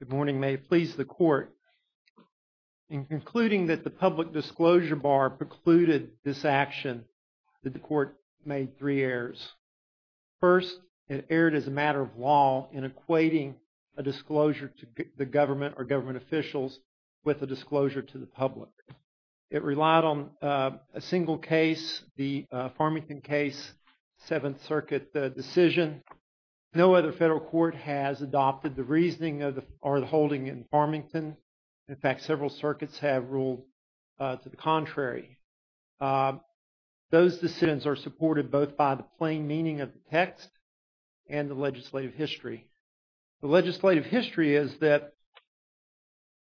Good morning. May it please the Court, in concluding that the Public Disclosure Bar precluded this action, the Court made three errors. First, it erred as a matter of law in equating a disclosure to the government or government officials with a disclosure to the public. It relied on a single case, the Farmington case, Seventh Circuit decision. No other federal court has adopted the reasoning or the holding in Farmington. In fact, several circuits have ruled to the contrary. Those decisions are supported both by the plain meaning of the text and the legislative history. The legislative history is that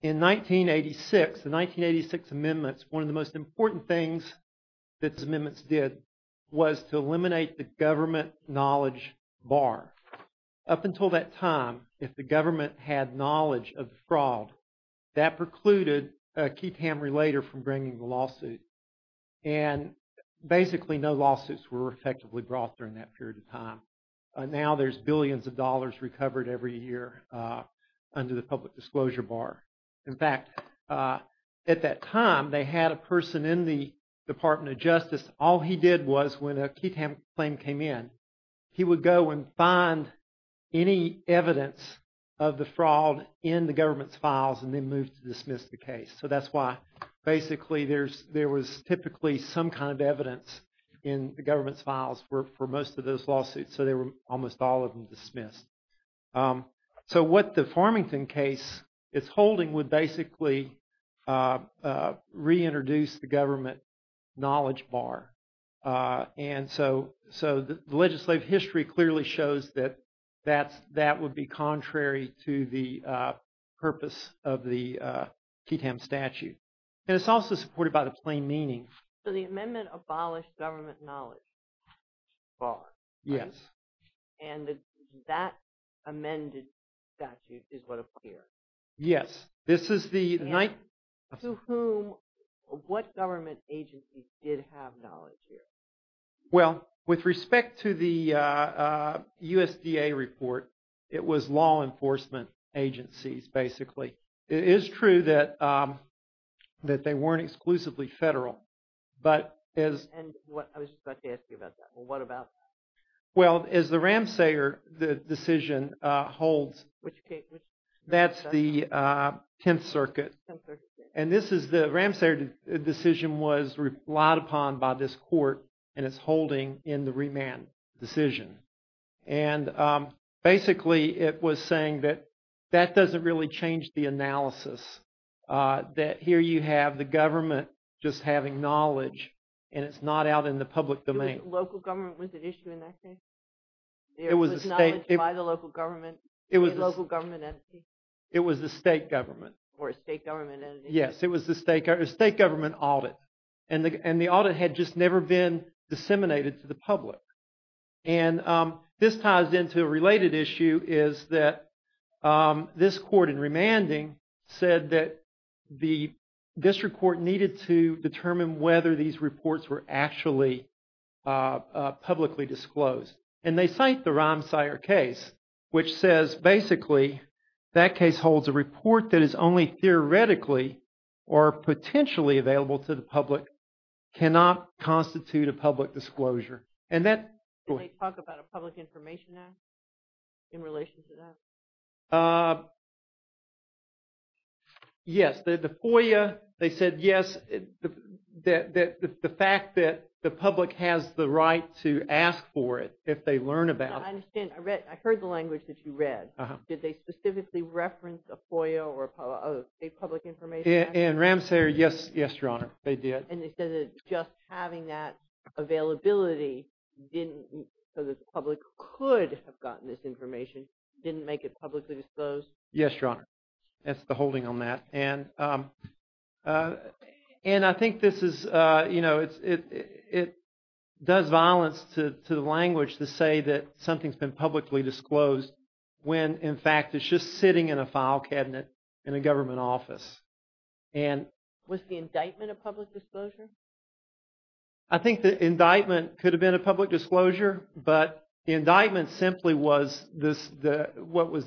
in 1986, the 1986 amendments, one of the most important things that the amendments did was to eliminate the government knowledge bar. Up until that time, if the government had knowledge of the fraud, that precluded a Keatham Relator from bringing the lawsuit and basically no lawsuits were effectively brought during that period of time. Now there's billions of dollars recovered every year under the Public Disclosure Bar. In fact, at that time, they had a person in the Department of Justice, all he did was when a Keatham claim came in, he would go and find any evidence of the fraud in the government's files and then move to dismiss the case. So that's why basically there was typically some kind of evidence in the government's files for most of those lawsuits. So they were almost all of them dismissed. So what the Farmington case is holding would basically reintroduce the government knowledge bar. And so the legislative history clearly shows that that would be contrary to the purpose of the Keatham statute. And it's also supported by the plain meaning. So the amendment abolished government knowledge bar. Yes. And that amended statute is what appears. Yes. This is the... To whom, what government agencies did have knowledge here? Well, with respect to the USDA report, it was law enforcement agencies, basically. It is true that they weren't exclusively federal, but as... And I was just about to ask you about that. Well, what about... Well, as the Ramsayer decision holds... Which case? That's the 10th Circuit. And this is the Ramsayer decision was relied upon by this court and it's holding in the remand decision. And basically it was saying that that doesn't really change the analysis. That here you have the government just having knowledge and it's not out in the public domain. The state local government was at issue in that case? It was the state... There was knowledge by the local government entity? It was the state government. Or a state government entity. Yes. It was the state government audit. And the audit had just never been disseminated to the public. And this ties into a related issue is that this court in remanding said that the district court needed to determine whether these reports were actually publicly disclosed. And they cite the Ramsayer case which says basically that case holds a report that is only theoretically or potentially available to the public, cannot constitute a public disclosure. Did they talk about a public information act in relation to that? Yes. The FOIA, they said yes. The fact that the public has the right to ask for it if they learn about it. I understand. I heard the language that you read. Did they specifically reference a FOIA or a public information act? In Ramsayer, yes. Yes, Your Honor. They did. And they said that just having that availability so that the public could have gotten this information didn't make it publicly disclosed? Yes, Your Honor. That's the holding on that. And I think this is, you know, it does violence to the language to say that something's been publicly disclosed when in fact it's just sitting in a file cabinet in a government office. Was the indictment a public disclosure? I think the indictment could have been a public disclosure, but the indictment simply was what was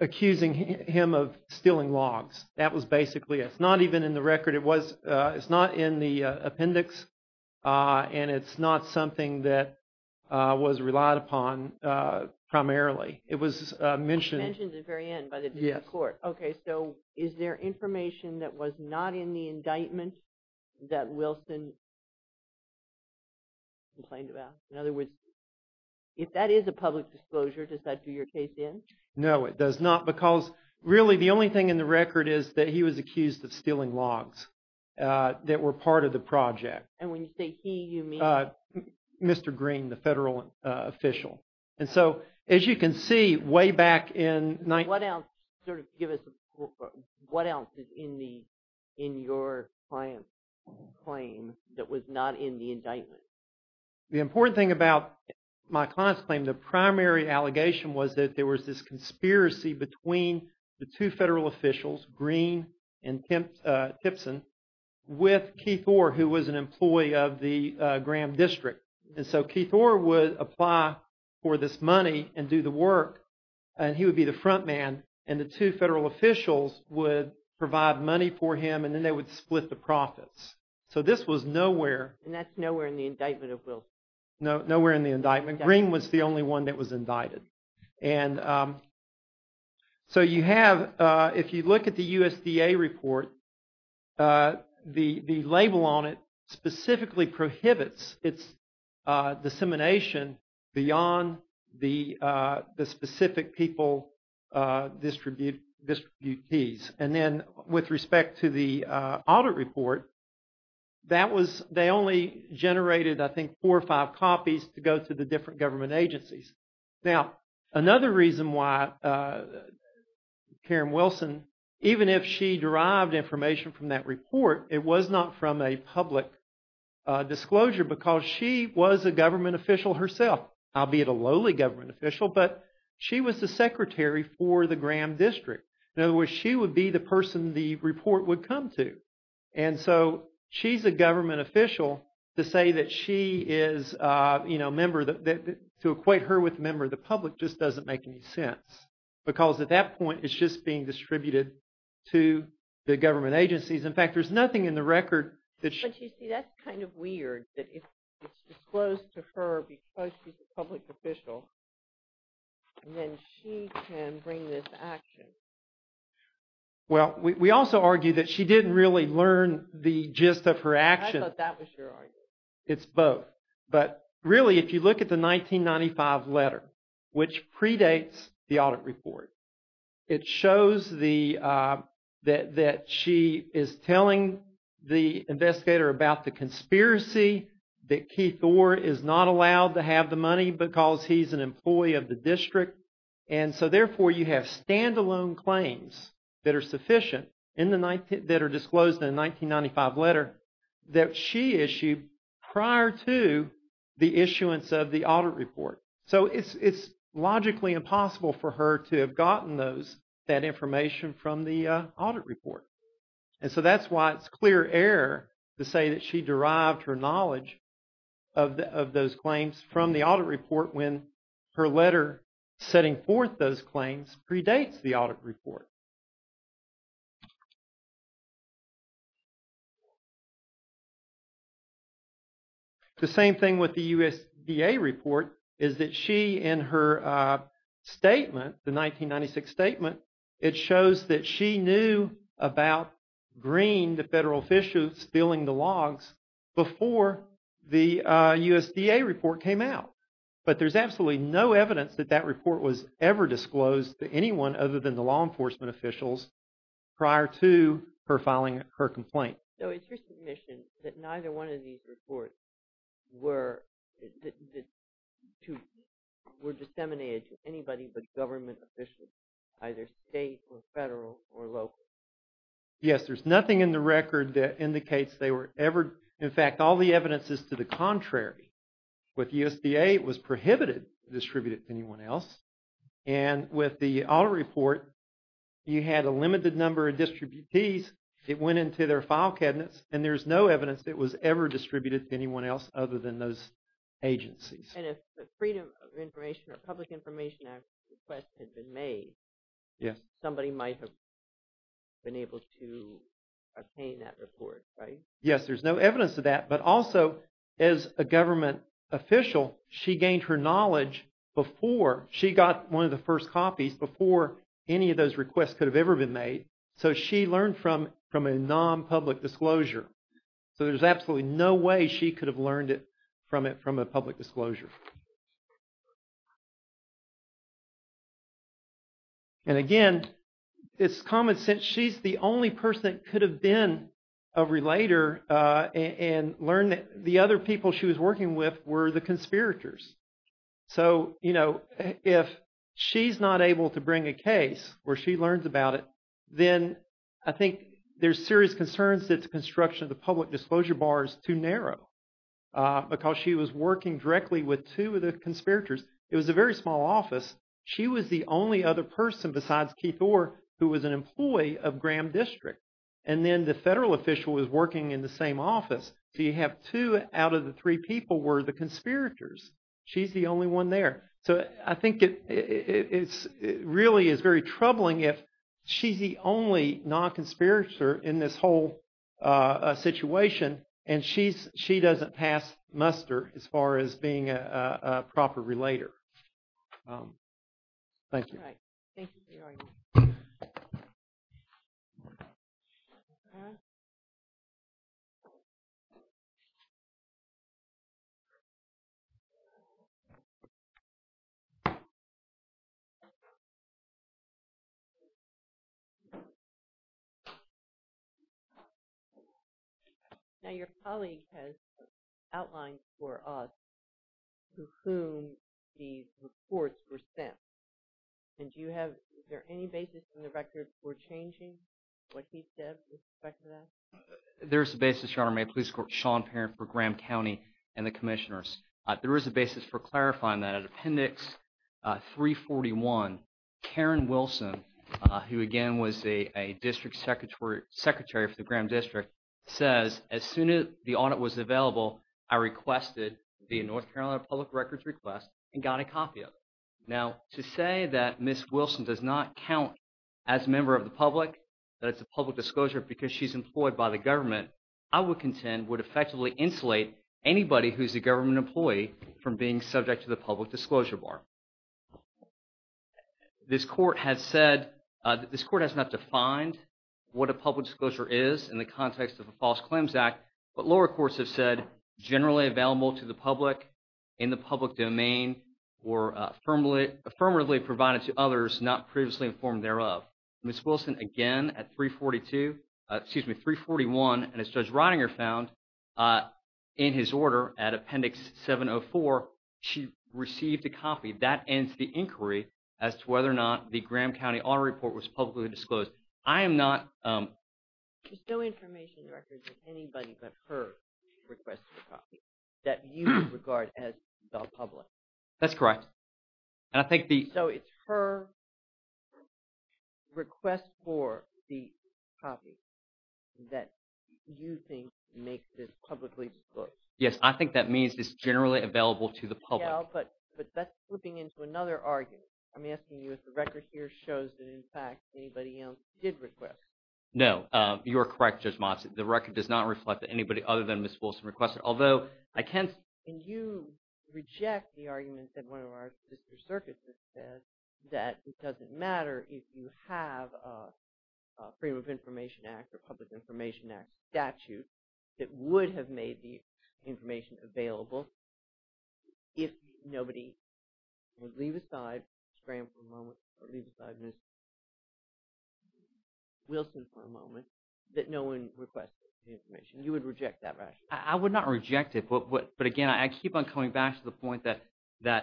accusing him of stealing logs. That was basically it. It's not even in the record. It's not in the appendix. And it's not something that was relied upon primarily. It was mentioned at the very end by the district court. Okay, so is there information that was not in the indictment that Wilson complained about? In other words, if that is a public disclosure, does that do your case in? No, it does not because really the only thing in the record is that he was accused of stealing logs that were part of the project. And when you say he, you mean? Mr. Green, the federal official. And so, as you can see, way back in… What else, sort of give us, what else is in the, in your client's claim that was not in the indictment? The important thing about my client's claim, the primary allegation was that there was this conspiracy between the two federal officials, Green and Tipson, with Keith Orr, who was an employee of the Graham district. And so Keith Orr would apply for this money and do the work, and he would be the front man, and the two federal officials would provide money for him, and then they would split the profits. So this was nowhere. And that's nowhere in the indictment of Wilson. Nowhere in the indictment. Green was the only one that was indicted. And so you have, if you look at the USDA report, the label on it specifically prohibits its dissemination beyond the specific people, distributees. And then with respect to the audit report, that was, they only generated, I think, four or five copies to go to the different government agencies. Now, another reason why Karen Wilson, even if she derived information from that report, it was not from a public disclosure, because she was a government official herself. Albeit a lowly government official, but she was the secretary for the Graham district. In other words, she would be the person the report would come to. And so she's a government official, to say that she is a member, to equate her with a member of the public, just doesn't make any sense. Because at that point, it's just being distributed to the government agencies. In fact, there's nothing in the record that… But you see, that's kind of weird, that it's disclosed to her because she's a public official. And then she can bring this action. Well, we also argue that she didn't really learn the gist of her actions. I thought that was your argument. It's both. But really, if you look at the 1995 letter, which predates the audit report, it shows that she is telling the investigators, about the conspiracy, that Keith Orr is not allowed to have the money because he's an employee of the district. And so therefore, you have stand-alone claims that are sufficient, that are disclosed in the 1995 letter, that she issued prior to the issuance of the audit report. So it's logically impossible for her to have gotten that information from the audit report. And so that's why it's clear error to say that she derived her knowledge of those claims from the audit report when her letter setting forth those claims predates the audit report. The same thing with the USDA report is that she, in her statement, the 1996 statement, it shows that she knew about Greene, the federal official, stealing the logs before the USDA report came out. But there's absolutely no evidence that that report was ever disclosed to anyone other than the law enforcement officials prior to her filing her complaint. So it's your submission that neither one of these reports were disseminated to anybody but government officials, either state or federal or local? Yes, there's nothing in the record that indicates they were ever, in fact, all the evidence is to the contrary. With the USDA, it was prohibited to distribute it to anyone else. And with the audit report, you had a limited number of distributees. It went into their file cabinets and there's no evidence it was ever distributed to anyone else other than those agencies. And if the Freedom of Information or Public Information Act request had been made, somebody might have been able to obtain that report, right? Yes, there's no evidence of that. But also, as a government official, she gained her knowledge before, she got one of the first copies before any of those requests could have ever been made. So she learned from a non-public disclosure. So there's absolutely no way she could have learned it from a public disclosure. And again, it's common sense, she's the only person that could have been a relator and learned that the other people she was working with were the conspirators. So, you know, if she's not able to bring a case where she learns about it, then I think there's serious concerns that the construction of the public disclosure bar is too narrow. Because she was working directly with two of the conspirators. It was a very small office. She was the only other person besides Keith Orr who was an employee of Graham District. And then the federal official was working in the same office. So you have two out of the three people were the conspirators. She's the only one there. So I think it really is very troubling if she's the only non-conspirator in this whole situation and she doesn't pass muster as far as being a proper relator. Thank you. All right. Thank you for your argument. Now your colleague has outlined for us to whom these reports were sent. And do you have, is there any basis in the record for changing what he said with respect to that? There is a basis, Your Honor. My police clerk, Sean Parent, for Graham County and the commissioners. There is a basis for clarifying that. Appendix 341, Karen Wilson, who again was a district secretary for the Graham District, says as soon as the audit was available, I requested the North Carolina Public Records request and got a copy of it. Now to say that Ms. Wilson does not count as a member of the public, that it's a public disclosure because she's employed by the government, I would contend would effectively insulate anybody who's a government employee from being subject to the public disclosure bar. This court has said, this court has not defined what a public disclosure is in the context of a false claims act. But lower courts have said generally available to the public, in the public domain, or affirmatively provided to others not previously informed thereof. Ms. Wilson again at 342, excuse me, 341, and as Judge Ridinger found in his order at Appendix 704, she received a copy. That ends the inquiry as to whether or not the Graham County audit report was publicly disclosed. I am not – There's no information in the records that anybody but her requested a copy that you regard as the public. That's correct, and I think the – So it's her request for the copy that you think makes this publicly disclosed. Yes, I think that means it's generally available to the public. But that's slipping into another argument. I'm asking you if the record here shows that, in fact, anybody else did request. No, you are correct, Judge Motz. The record does not reflect that anybody other than Ms. Wilson requested, although I can – And you reject the argument that one of our sister circuits has said that it doesn't matter if you have a Freedom of Information Act or Public Information Act statute that would have made the information available if nobody would leave aside Ms. Graham for a moment or leave aside Ms. Wilson for a moment that no one requested the information. You would reject that rationale. I would not reject it, but again, I keep on coming back to the point that the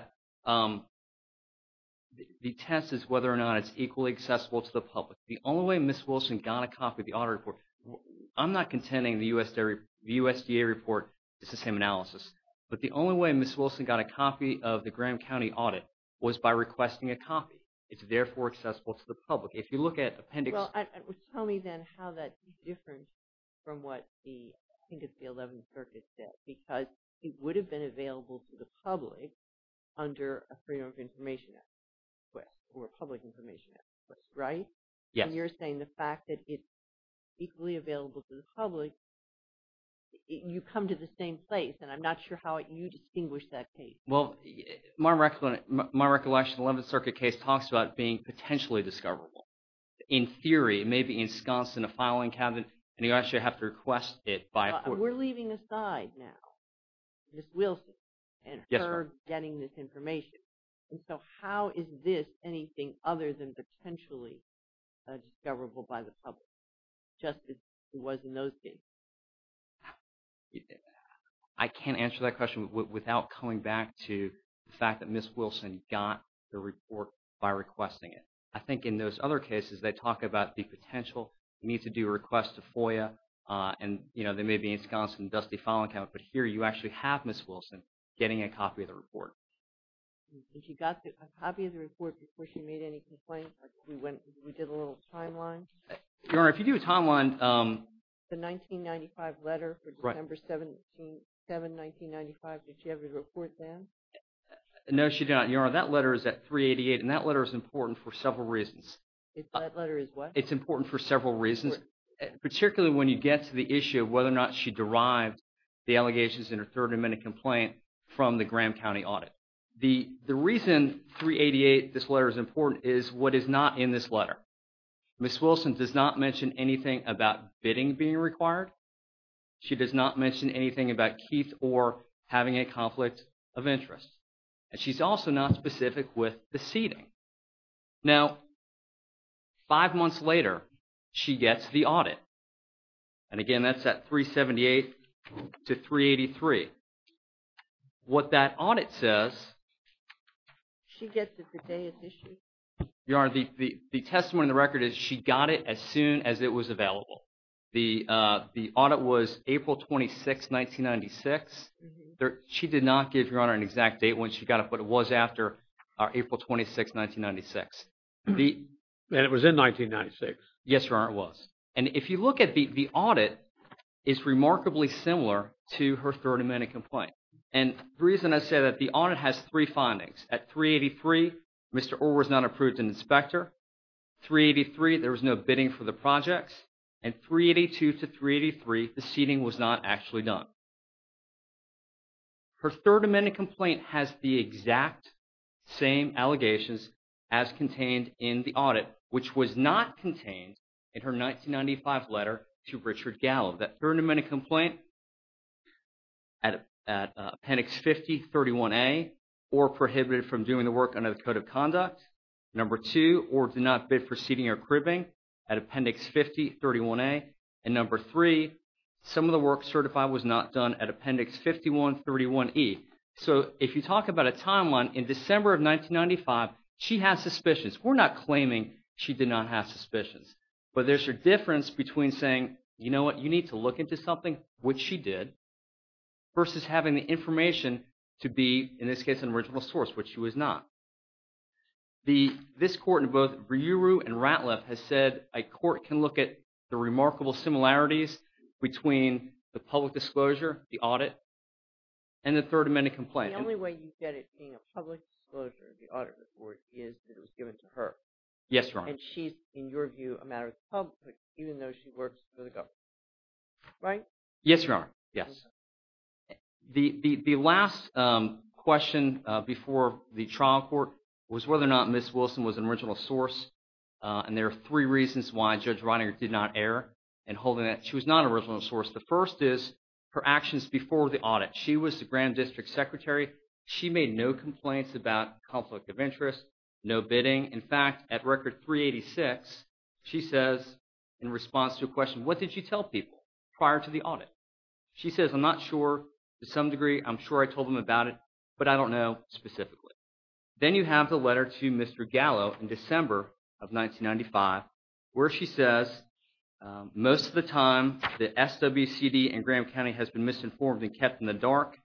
test is whether or not it's equally accessible to the public. The only way Ms. Wilson got a copy of the audit report – I'm not contending the USDA report is the same analysis. But the only way Ms. Wilson got a copy of the Graham County audit was by requesting a copy. It's therefore accessible to the public. If you look at Appendix – Well, tell me then how that's different from what the – I think it's the 11th Circuit said because it would have been available to the public under a Freedom of Information Act request or a Public Information Act request, right? And you're saying the fact that it's equally available to the public, you come to the same place, and I'm not sure how you distinguish that case. Well, my recollection of the 11th Circuit case talks about it being potentially discoverable. In theory, it may be ensconced in a filing cabinet, and you actually have to request it by a court. But we're leaving aside now Ms. Wilson and her getting this information. And so how is this anything other than potentially discoverable by the public, just as it was in those cases? I can't answer that question without coming back to the fact that Ms. Wilson got the report by requesting it. I think in those other cases, they talk about the potential. You need to do a request to FOIA, and there may be ensconced in a dusty filing cabinet. But here you actually have Ms. Wilson getting a copy of the report. And she got a copy of the report before she made any complaints? We went – we did a little timeline? Your Honor, if you do a timeline – The 1995 letter for December 7, 1995, did she have the report then? No, she did not. Your Honor, that letter is at 388, and that letter is important for several reasons. That letter is what? It's important for several reasons, particularly when you get to the issue of whether or not she derived the allegations in her third amendment complaint from the Graham County audit. The reason 388, this letter, is important is what is not in this letter. Ms. Wilson does not mention anything about bidding being required. She does not mention anything about Keith or having a conflict of interest. And she's also not specific with the seating. Now, five months later, she gets the audit. And again, that's at 378 to 383. What that audit says – She gets it the day of the issue. Your Honor, the testimony in the record is she got it as soon as it was available. The audit was April 26, 1996. She did not give Your Honor an exact date when she got it, but it was after April 26, 1996. And it was in 1996. Yes, Your Honor, it was. And if you look at the audit, it's remarkably similar to her third amendment complaint. And the reason I say that, the audit has three findings. At 383, Mr. Orr was not approved an inspector. 383, there was no bidding for the projects. And 382 to 383, the seating was not actually done. Her third amendment complaint has the exact same allegations as contained in the audit, which was not contained in her 1995 letter to Richard Gallo. That third amendment complaint at Appendix 5031A, Orr prohibited from doing the work under the Code of Conduct. Number two, Orr did not bid for seating or cribbing at Appendix 5031A. And number three, some of the work certified was not done at Appendix 5131E. So if you talk about a timeline, in December of 1995, she had suspicions. We're not claiming she did not have suspicions. But there's a difference between saying, you know what, you need to look into something, which she did, versus having the information to be, in this case, an original source, which she was not. This court in both Brewer and Ratliff has said a court can look at the remarkable similarities between the public disclosure, the audit, and the third amendment complaint. The only way you get it being a public disclosure, the audit report, is that it was given to her. Yes, Your Honor. And she's, in your view, a matter of the public, even though she works for the government. Right? Yes, Your Honor. Yes. The last question before the trial court was whether or not Ms. Wilson was an original source. And there are three reasons why Judge Reininger did not err in holding that. She was not an original source. The first is her actions before the audit. She was the Grand District Secretary. She made no complaints about conflict of interest, no bidding. In fact, at Record 386, she says, in response to a question, what did you tell people prior to the audit? She says, I'm not sure to some degree. I'm sure I told them about it, but I don't know specifically. Then you have the letter to Mr. Gallo in December of 1995, where she says, most of the time the SWCD and Graham County has been misinformed and kept in the dark,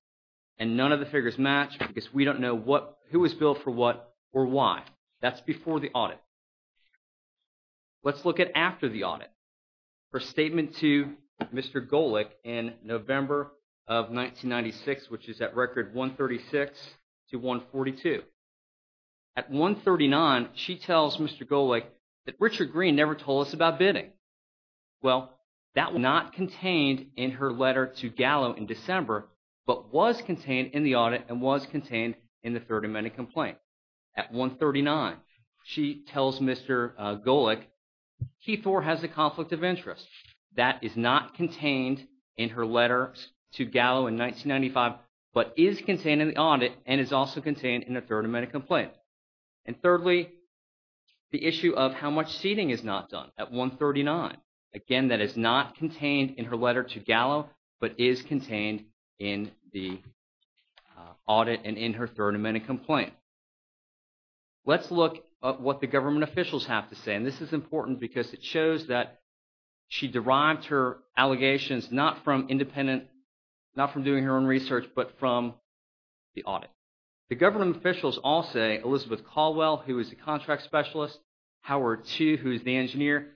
and none of the figures match because we don't know who was billed for what or why. That's before the audit. Let's look at after the audit. Her statement to Mr. Golick in November of 1996, which is at Record 136 to 142. At 139, she tells Mr. Golick that Richard Green never told us about bidding. Well, that was not contained in her letter to Gallo in December, but was contained in the audit and was contained in the 30-minute complaint. At 139, she tells Mr. Golick, Keith Orr has a conflict of interest. That is not contained in her letter to Gallo in 1995, but is contained in the audit and is also contained in the 30-minute complaint. And thirdly, the issue of how much seeding is not done at 139. Again, that is not contained in her letter to Gallo, but is contained in the audit and in her 30-minute complaint. Let's look at what the government officials have to say. And this is important because it shows that she derived her allegations not from independent, not from doing her own research, but from the audit. The government officials all say Elizabeth Caldwell, who is the contract specialist, Howard Tew, who is the engineer.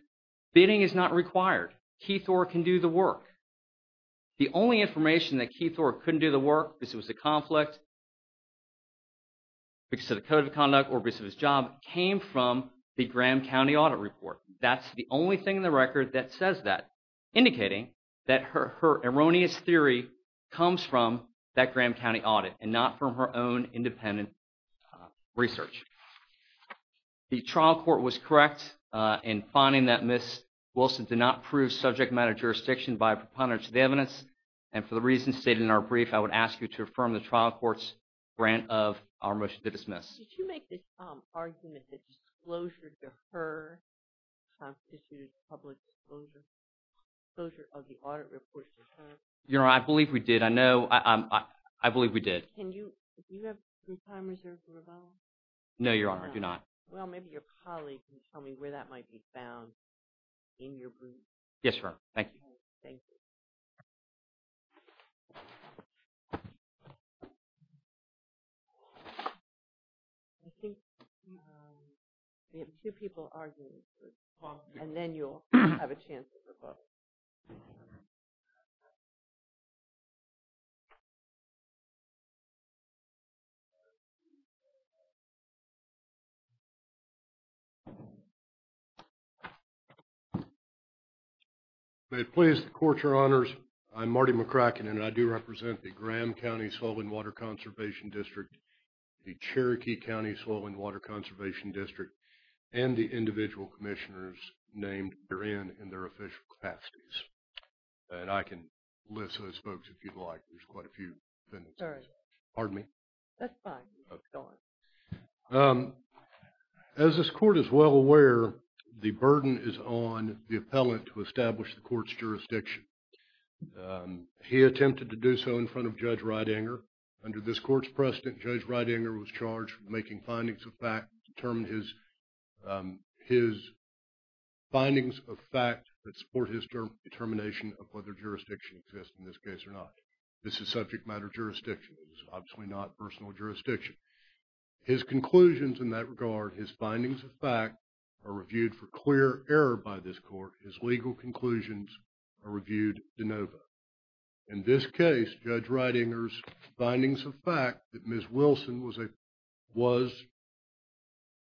Bidding is not required. Keith Orr can do the work. The only information that Keith Orr couldn't do the work is it was a conflict. Because of the code of conduct or because of his job came from the Graham County audit report. That's the only thing in the record that says that, indicating that her erroneous theory comes from that Graham County audit and not from her own independent research. The trial court was correct in finding that Ms. Wilson did not prove subject matter jurisdiction by a preponderance of the evidence. And for the reasons stated in our brief, I would ask you to affirm the trial court's grant of our motion to dismiss. Did you make this argument that disclosure to her constitutes public disclosure? Disclosure of the audit report to her? Your Honor, I believe we did. I know. I believe we did. Do you have some time reserved for rebuttal? No, Your Honor, I do not. Well, maybe your colleague can tell me where that might be found in your brief. Yes, Your Honor. Thank you. Thank you. I think we have two people arguing, and then you'll have a chance to rebuttal. May it please the Court, Your Honors. I'm Marty McCracken, and I do represent the Graham County Soil and Water Conservation District, the Cherokee County Soil and Water Conservation District, and the individual commissioners named herein in their official capacity. And I can list those folks if you'd like. There's quite a few. All right. Pardon me? That's fine. Okay. Go on. As this Court is well aware, the burden is on the appellant to establish the Court's jurisdiction. He attempted to do so in front of Judge Ridinger. Under this Court's precedent, Judge Ridinger was charged with making findings of fact, his findings of fact that support his determination of whether jurisdiction exists in this case or not. This is subject matter jurisdiction. It's obviously not personal jurisdiction. His conclusions in that regard, his findings of fact, are reviewed for clear error by this Court. His legal conclusions are reviewed de novo. In this case, Judge Ridinger's findings of fact that Ms. Wilson was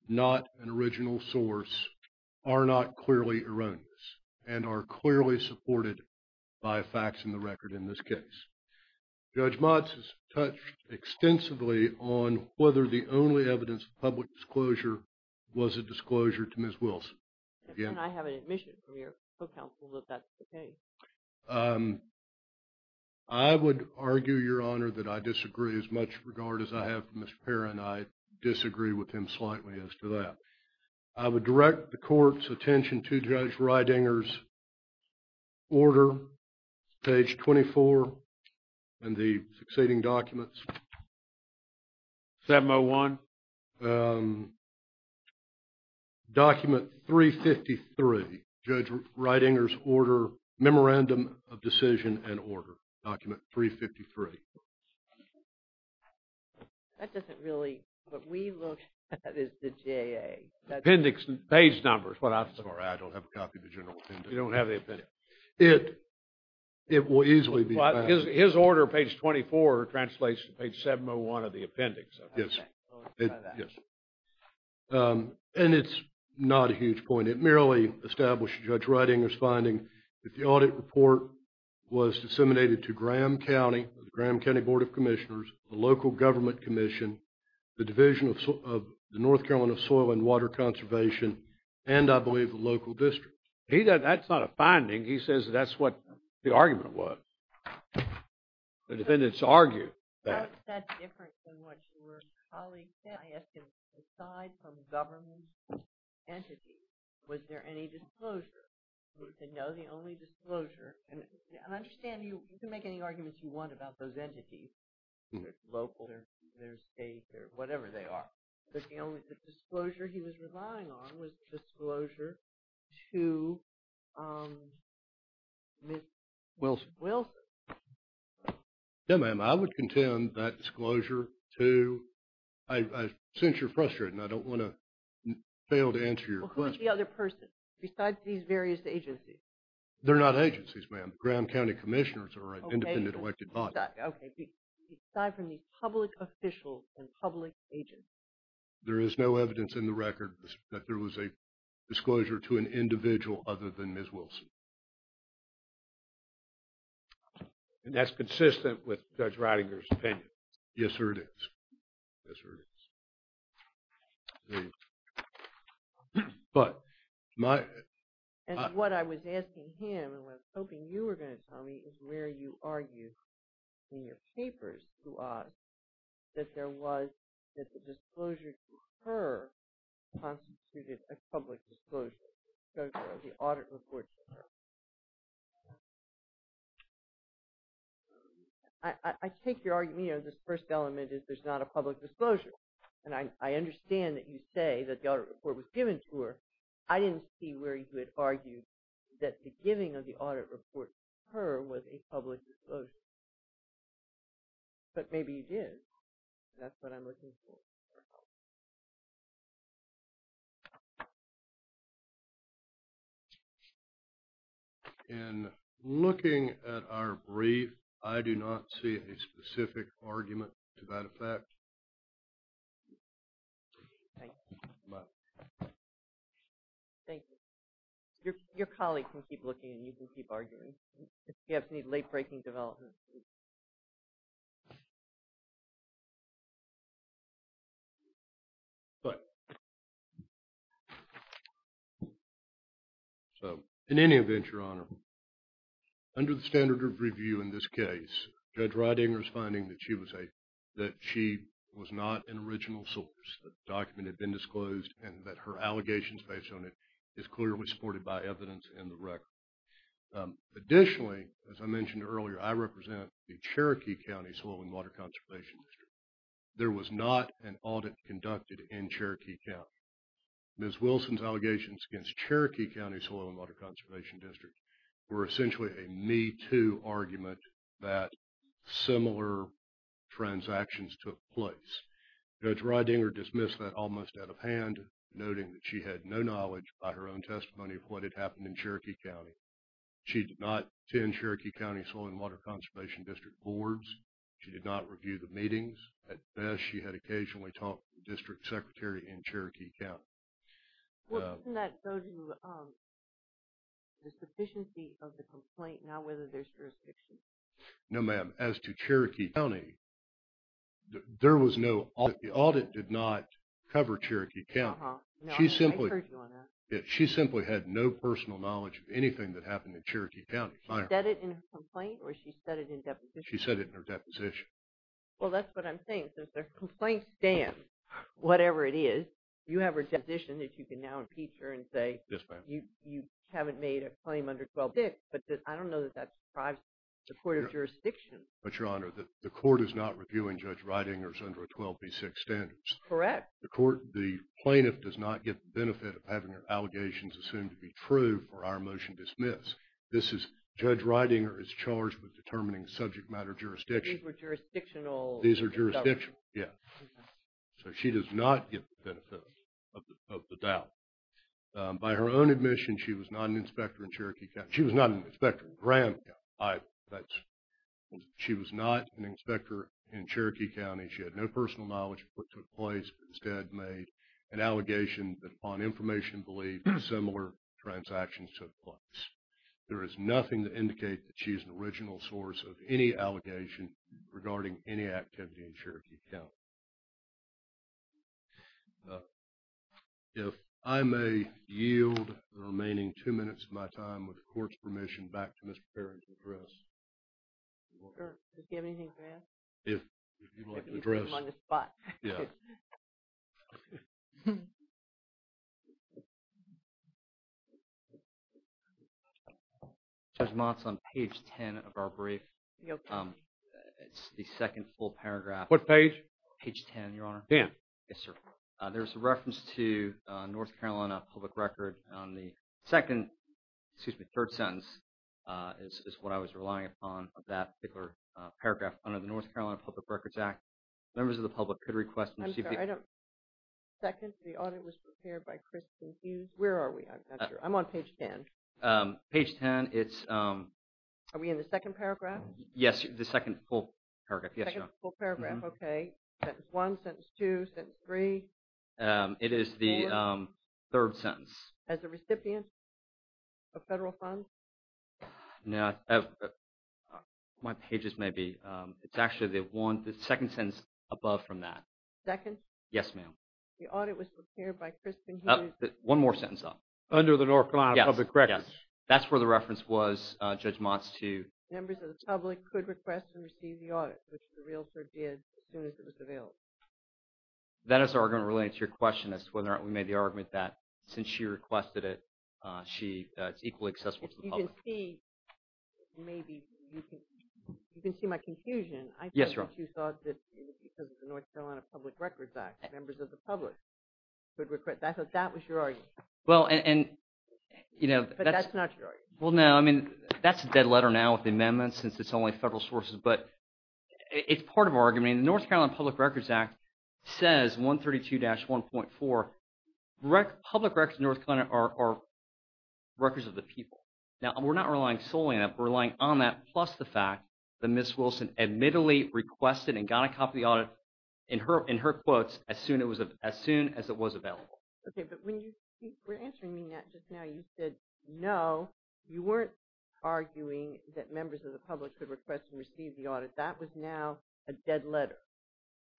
not an original source are not clearly erroneous and are clearly supported by facts in the record in this case. Judge Motz has touched extensively on whether the only evidence of public disclosure was a disclosure to Ms. Wilson. I have an admission from your co-counsel that that's the case. I would argue, Your Honor, that I disagree as much regard as I have for Mr. Perrin. I disagree with him slightly as to that. I would direct the Court's attention to Judge Ridinger's order, page 24, and the succeeding documents. 701. Document 353. Judge Ridinger's order, Memorandum of Decision and Order. Document 353. That doesn't really, what we look at is the J.A. Appendix, page numbers. I'm sorry, I don't have a copy of the general appendix. You don't have the appendix. It will easily be found. His order, page 24, translates to page 701 of the appendix. And it's not a huge point. It merely established Judge Ridinger's finding that the audit report was disseminated to Graham County, the Graham County Board of Commissioners, the local government commission, the Division of the North Carolina Soil and Water Conservation, and I believe the local district. That's not a finding. He says that's what the argument was. The defendants argued that. How is that different than what your colleague said? I asked him, aside from government entities, was there any disclosure? He said, no, the only disclosure, and I understand you can make any arguments you want about those entities, whether it's local or state or whatever they are. But the only disclosure he was relying on was the disclosure to Ms. Wilson. Yes, ma'am. I would contend that disclosure to, since you're frustrated and I don't want to fail to answer your question. Well, who is the other person besides these various agencies? They're not agencies, ma'am. Graham County Commissioners are an independent elected body. Okay. Aside from these public officials and public agencies. There is no evidence in the record that there was a disclosure to an individual other than Ms. Wilson. And that's consistent with Judge Ridinger's opinion. Yes, sir, it is. Yes, sir, it is. But my – And what I was asking him, and I was hoping you were going to tell me, is where you argue in your papers to us that there was, that the disclosure to her constituted a public disclosure. So the audit report to her. I take your argument, you know, this first element is there's not a public disclosure. And I understand that you say that the audit report was given to her. I didn't see where you had argued that the giving of the audit report to her was a public disclosure. But maybe it is. That's what I'm looking for. In looking at our brief, I do not see a specific argument to that effect. Thank you. Thank you. Your colleague can keep looking and you can keep arguing. If you have any late-breaking developments. Go ahead. So, in any event, Your Honor, under the standard of review in this case, Judge Ridinger's finding that she was a, that she was not an original source, the document had been disclosed, and that her allegations based on it is clearly supported by evidence in the record. Additionally, as I mentioned earlier, I represent the Cherokee County Soil and Water Conservation District. There was not an audit conducted in Cherokee County. Ms. Wilson's allegations against Cherokee County Soil and Water Conservation District were essentially a me-too argument that similar transactions took place. Judge Ridinger dismissed that almost out of hand, noting that she had no knowledge by her own testimony of what had happened in Cherokee County. She did not attend Cherokee County Soil and Water Conservation District boards. She did not review the meetings. At best, she had occasionally talked to the district secretary in Cherokee County. Well, doesn't that go to the sufficiency of the complaint, not whether there's jurisdiction? No, ma'am. As to Cherokee County, there was no audit. The audit did not cover Cherokee County. Uh-huh. No, I heard you on that. She simply had no personal knowledge of anything that happened in Cherokee County. She said it in her complaint, or she said it in her deposition? She said it in her deposition. Well, that's what I'm saying. Since their complaint stands, whatever it is, you have a deposition that you can now impeach her and say, Yes, ma'am. You haven't made a claim under 12b-6, but I don't know that that deprives the court of jurisdiction. But, Your Honor, the court is not reviewing Judge Reidinger's under a 12b-6 standards. Correct. The plaintiff does not get the benefit of having her allegations assumed to be true for our motion dismissed. Judge Reidinger is charged with determining subject matter jurisdiction. These were jurisdictional. These are jurisdictional, yeah. So she does not get the benefit of the doubt. By her own admission, she was not an inspector in Cherokee County. She was not an inspector in Graham County. She was not an inspector in Cherokee County. She had no personal knowledge of what took place, but instead made an allegation that, upon information believed, similar transactions took place. There is nothing to indicate that she is an original source of any allegation regarding any activity in Cherokee County. If I may yield the remaining two minutes of my time, with the court's permission, back to Mr. Perry to address. Does he have anything for us? If you'd like an address. You put him on the spot. Yeah. Judge Mott's on page 10 of our brief. It's the second full paragraph. What page? Page 10, Your Honor. Dan. Yes, sir. There's a reference to North Carolina public record on the second, excuse me, third sentence, is what I was relying upon of that particular paragraph. Under the North Carolina Public Records Act, members of the public could request and receive. I'm sorry, I don't. Second, the audit was prepared by Kristen Hughes. Where are we? I'm not sure. I'm on page 10. Page 10, it's. Are we in the second paragraph? Yes, the second full paragraph. The second full paragraph, okay. Sentence one, sentence two, sentence three. It is the third sentence. As a recipient of federal funds? No, my pages may be. It's actually the second sentence above from that. Second? Yes, ma'am. The audit was prepared by Kristen Hughes. One more sentence, though. Under the North Carolina Public Records. Yes, yes. That's where the reference was, Judge Mott's, to. Members of the public could request and receive the audit, which the realtor did as soon as it was available. That is the argument related to your question as to whether or not we made the argument that since she requested it, it's equally accessible to the public. You can see my confusion. Yes, Your Honor. I thought that you thought that because of the North Carolina Public Records Act, members of the public could request. I thought that was your argument. Well, and. But that's not your argument. Well, no. I mean, that's a dead letter now with the amendment since it's only federal sources. But it's part of our argument. The North Carolina Public Records Act says 132-1.4, public records in North Carolina are records of the people. Now, we're not relying solely on that. We're relying on that plus the fact that Ms. Wilson admittedly requested and got a copy of the audit in her quotes as soon as it was available. Okay, but when you were answering me just now, you said, no, you weren't arguing that members of the public could request and receive the audit. That was now a dead letter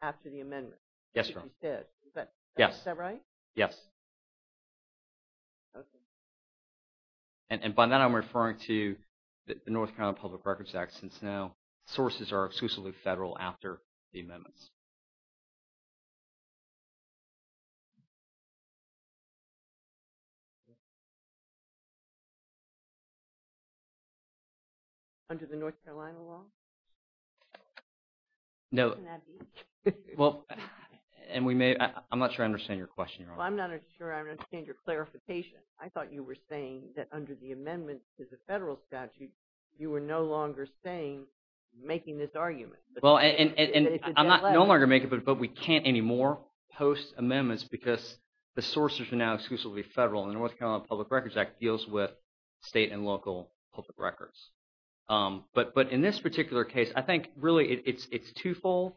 after the amendment. Yes, Your Honor. Because you said. Yes. Is that right? Yes. Okay. And by that, I'm referring to the North Carolina Public Records Act since now sources are exclusively federal after the amendments. Under the North Carolina law? No. Can that be? Well, and we may – I'm not sure I understand your question, Your Honor. Well, I'm not sure I understand your clarification. I thought you were saying that under the amendment to the federal statute, you were no longer saying – making this argument. Well, and I'm no longer making it, but we can't anymore post amendments because the sources are now exclusively federal, and the North Carolina Public Records Act deals with state and local public records. But in this particular case, I think really it's twofold.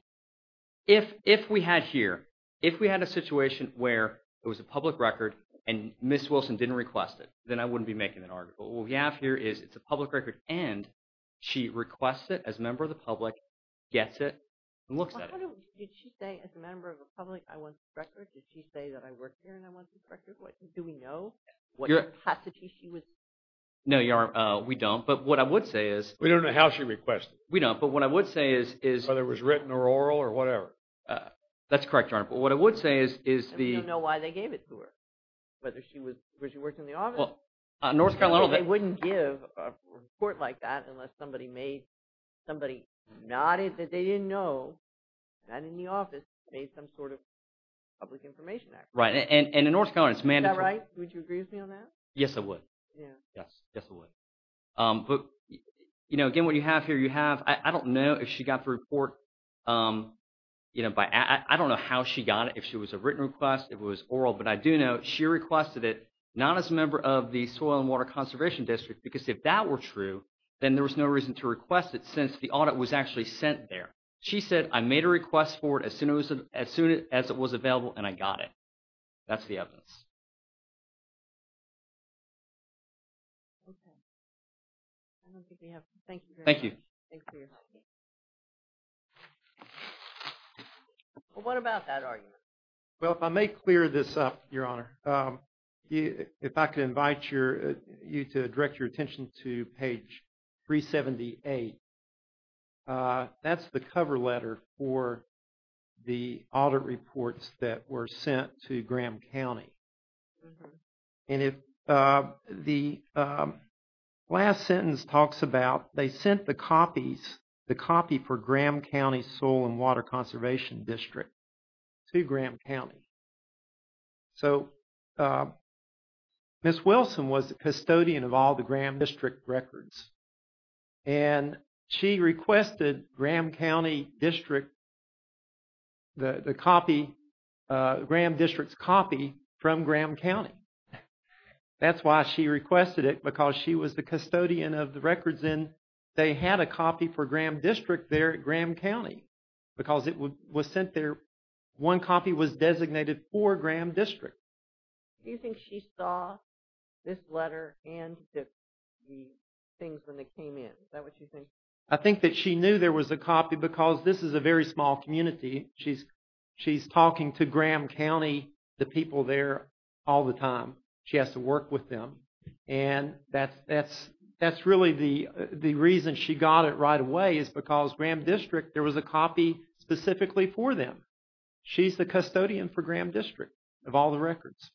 If we had here – if we had a situation where it was a public record and Ms. Wilson didn't request it, then I wouldn't be making an argument. What we have here is it's a public record, and she requests it as a member of the public, gets it, and looks at it. Did she say, as a member of the public, I want this record? Did she say that I work here and I want this record? Do we know what capacity she was – No, Your Honor, we don't, but what I would say is – We don't know how she requested it. We don't, but what I would say is – Whether it was written or oral or whatever. That's correct, Your Honor, but what I would say is the – And we don't know why they gave it to her, whether she was – whether she worked in the office. Well, North Carolina – They wouldn't give a report like that unless somebody made – somebody nodded that they didn't know that in the office made some sort of public information act. Right, and in North Carolina, it's mandatory. Is that right? Would you agree with me on that? Yes, I would. Yes, yes, I would. But, again, what you have here, you have – I don't know if she got the report by – I don't know how she got it, if she was a written request, if it was oral. But I do know she requested it not as a member of the Soil and Water Conservation District because if that were true, then there was no reason to request it since the audit was actually sent there. She said, I made a request for it as soon as it was available, and I got it. That's the evidence. Okay. I don't think we have – thank you very much. Thank you. Thanks for your time. Well, what about that argument? Well, if I may clear this up, Your Honor, if I could invite your – you to direct your attention to page 378. That's the cover letter for the audit reports that were sent to Graham County. And if the last sentence talks about they sent the copies, the copy for Graham County Soil and Water Conservation District to Graham County. So, Ms. Wilson was the custodian of all the Graham District records. And she requested Graham County District, the copy, Graham District's copy from Graham County. That's why she requested it, because she was the custodian of the records, and they had a copy for Graham District there at Graham County. Because it was sent there – one copy was designated for Graham District. Do you think she saw this letter and the things when they came in? Is that what you think? I think that she knew there was a copy, because this is a very small community. She's talking to Graham County, the people there, all the time. She has to work with them. And that's really the reason she got it right away, is because Graham District, there was a copy specifically for them. She's the custodian for Graham District, of all the records.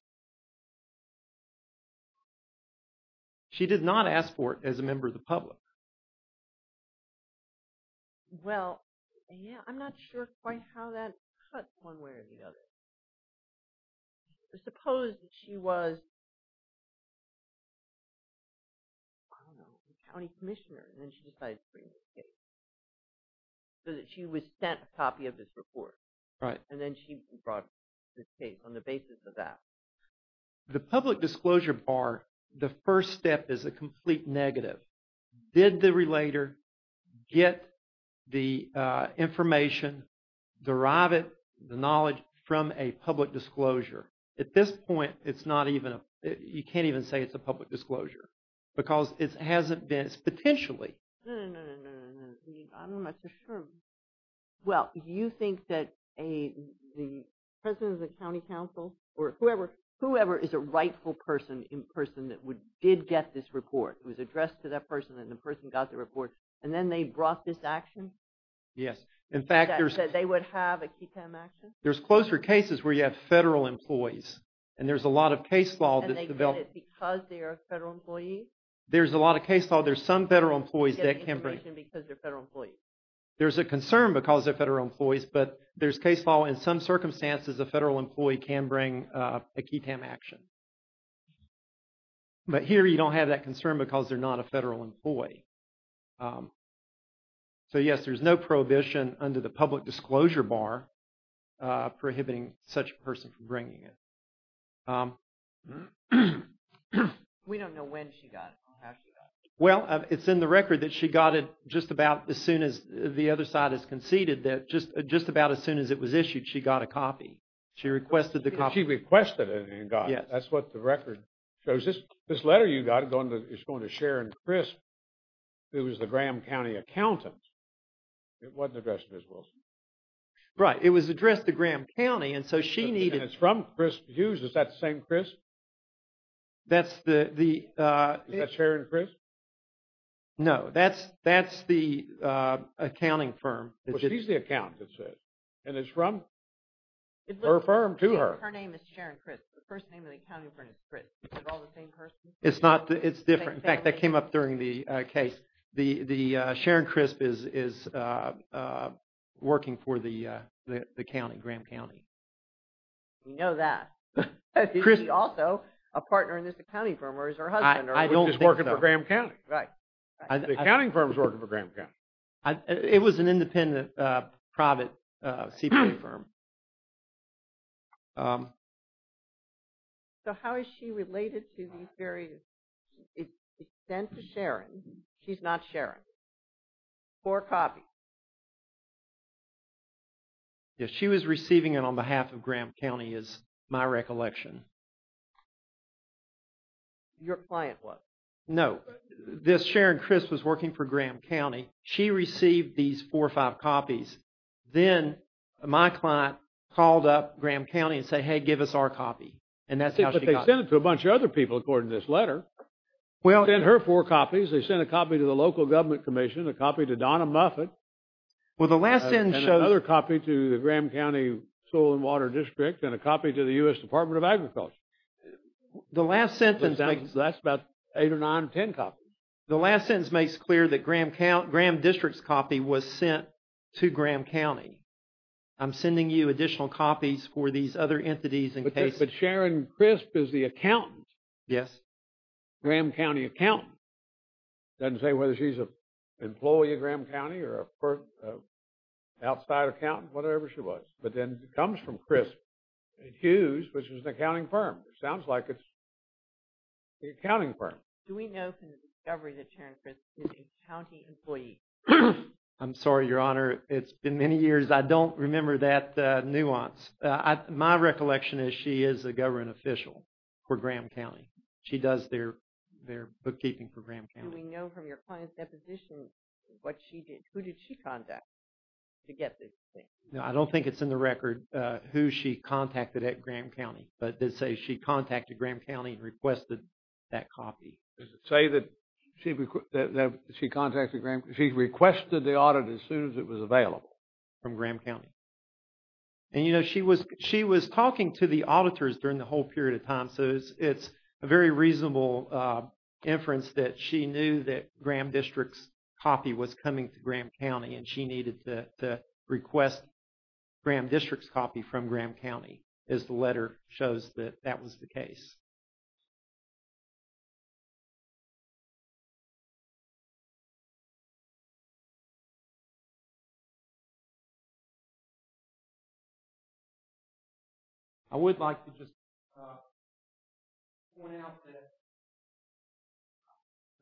She did not ask for it as a member of the public. Well, I'm not sure quite how that cuts one way or the other. Suppose that she was, I don't know, a county commissioner, and then she decided to bring this case. So that she was sent a copy of this report. Right. And then she brought this case on the basis of that. The public disclosure bar, the first step is a complete negative. Did the relator get the information, derive it, the knowledge, from a public disclosure? At this point, it's not even, you can't even say it's a public disclosure. Because it hasn't been, it's potentially. No, no, no. I'm not so sure. Well, you think that the president of the county council, or whoever, whoever is a rightful person in person that did get this report, it was addressed to that person, and the person got the report. And then they brought this action? Yes. In fact, there's... That said they would have a KETAM action? There's closer cases where you have federal employees. And there's a lot of case law that's developed... And they did it because they are federal employees? There's a lot of case law. There's some federal employees that can bring... They get the information because they're federal employees. There's a concern because they're federal employees. But there's case law in some circumstances a federal employee can bring a KETAM action. But here you don't have that concern because they're not a federal employee. So, yes, there's no prohibition under the public disclosure bar prohibiting such a person from bringing it. We don't know when she got it or how she got it. Well, it's in the record that she got it just about as soon as the other side has conceded that just about as soon as it was issued, she got a copy. She requested the copy. She requested it and got it. Yes. That's what the record shows. This letter you got is going to Sharon Crisp, who is the Graham County accountant. It wasn't addressed to Ms. Wilson. Right. It was addressed to Graham County, and so she needed... And it's from Crisp Hughes. Is that the same Crisp? That's the... Is that Sharon Crisp? No. That's the accounting firm. Well, she's the accountant, it says. And it's from her firm to her. Her name is Sharon Crisp. The first name of the accounting firm is Crisp. Are they all the same person? It's not. It's different. In fact, that came up during the case. Sharon Crisp is working for the county, Graham County. We know that. Is she also a partner in this accounting firm or is her husband? I don't think so. She's working for Graham County. Right. The accounting firm is working for Graham County. It was an independent private CPA firm. So how is she related to these various... It's sent to Sharon. She's not Sharon. Four copies. Yes, she was receiving it on behalf of Graham County is my recollection. Your client was? No. This Sharon Crisp was working for Graham County. She received these four or five copies. Then my client called up Graham County and said, Hey, give us our copy. And that's how she got it. But they sent it to a bunch of other people according to this letter. Well... Sent her four copies. They sent a copy to the local government commission, a copy to Donna Muffet. Well, the last sentence... And another copy to the Graham County Soil and Water District and a copy to the U.S. Department of Agriculture. The last sentence... That's about eight or nine or ten copies. The last sentence makes clear that Graham County... Graham District's copy was sent to Graham County. I'm sending you additional copies for these other entities in case... But Sharon Crisp is the accountant. Yes. Graham County accountant. Doesn't say whether she's an employee of Graham County or an outside accountant, whatever she was. But then it comes from Crisp. And Hughes, which is an accounting firm. It sounds like it's an accounting firm. Do we know from the discovery that Sharon Crisp is a county employee? I'm sorry, Your Honor. It's been many years. I don't remember that nuance. My recollection is she is a government official for Graham County. She does their bookkeeping for Graham County. Do we know from your client's deposition what she did? Who did she contact to get this thing? No, I don't think it's in the record who she contacted at Graham County. But it says she contacted Graham County and requested that copy. Does it say that she contacted Graham County? She requested the audit as soon as it was available. From Graham County. And, you know, she was talking to the auditors during the whole period of time. So it's a very reasonable inference that she knew that Graham District's copy from Graham County, as the letter shows that that was the case. I would like to just point out that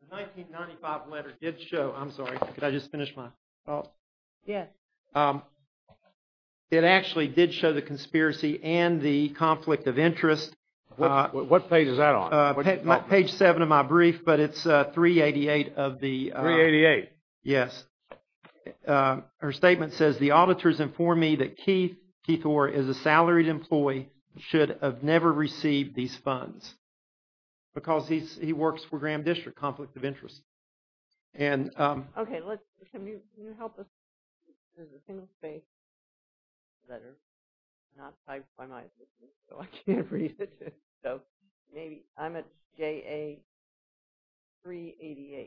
the 1995 letter did show. I'm sorry, could I just finish my thought? Yes. It actually did show the conspiracy and the conflict of interest. What page is that on? Page 7 of my brief, but it's 388 of the. 388. Yes. Her statement says the auditors inform me that Keith, Keith Orr is a salaried employee, should have never received these funds. Because he works for Graham District, conflict of interest. Okay, can you help us? There's a single space letter not typed by my assistant, so I can't read it. So maybe, I'm at JA 388.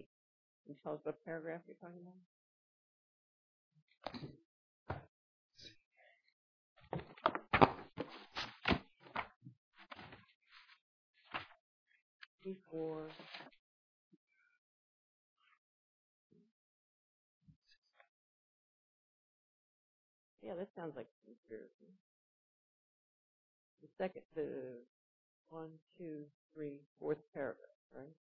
Can you tell us what paragraph you're talking about? Let's see here. Keith Orr. Yeah, this sounds like Keith Orr. The second, the one, two, three, fourth paragraph, right?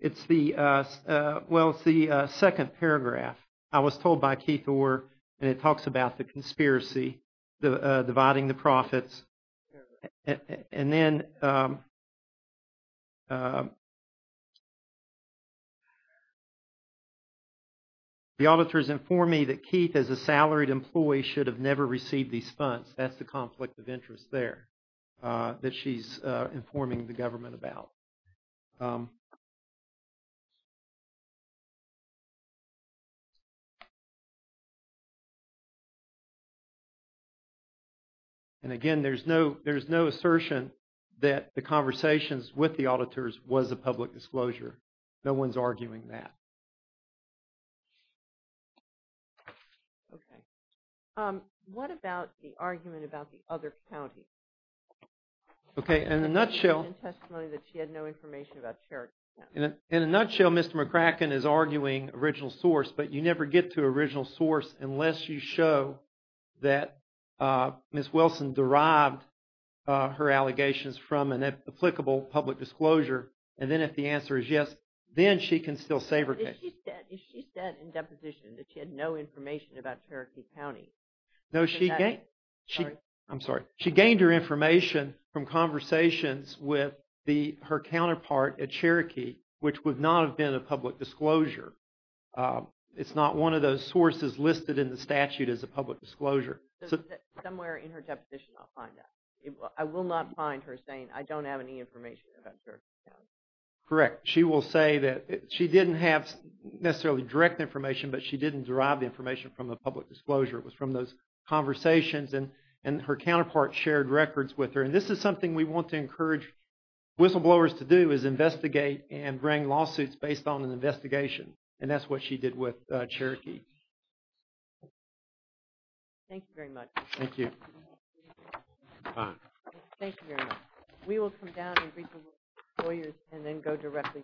It's the, well, it's the second paragraph. I was told by Keith Orr, and it talks about the conspiracy, dividing the profits. And then, the auditors inform me that Keith, as a salaried employee, should have never received these funds. That's the conflict of interest there, that she's informing the government about. And again, there's no, there's no assertion that the conversations with the auditors was a public disclosure. No one's arguing that. Okay, what about the argument about the other county? Okay, in a nutshell. The testimony that she had no information about Cherokee County. In a nutshell, Mr. McCracken is arguing original source, but you never get to original source unless you show that Ms. Wilson derived her allegations from an applicable public disclosure. And then, if the answer is yes, then she can still save her case. If she said in deposition that she had no information about Cherokee County. No, she, I'm sorry, she gained her information from conversations with her counterpart at Cherokee, which would not have been a public disclosure. It's not one of those sources listed in the statute as a public disclosure. Somewhere in her deposition, I'll find that. I will not find her saying, I don't have any information about Cherokee County. Correct. She will say that she didn't have necessarily direct information, but she didn't derive the information from a public disclosure. It was from those conversations, and her counterpart shared records with her. And this is something we want to encourage whistleblowers to do, is investigate and bring lawsuits based on an investigation. And that's what she did with Cherokee. Thank you very much. Thank you. Thank you very much. We will come down and greet the lawyers and then go directly to our last case.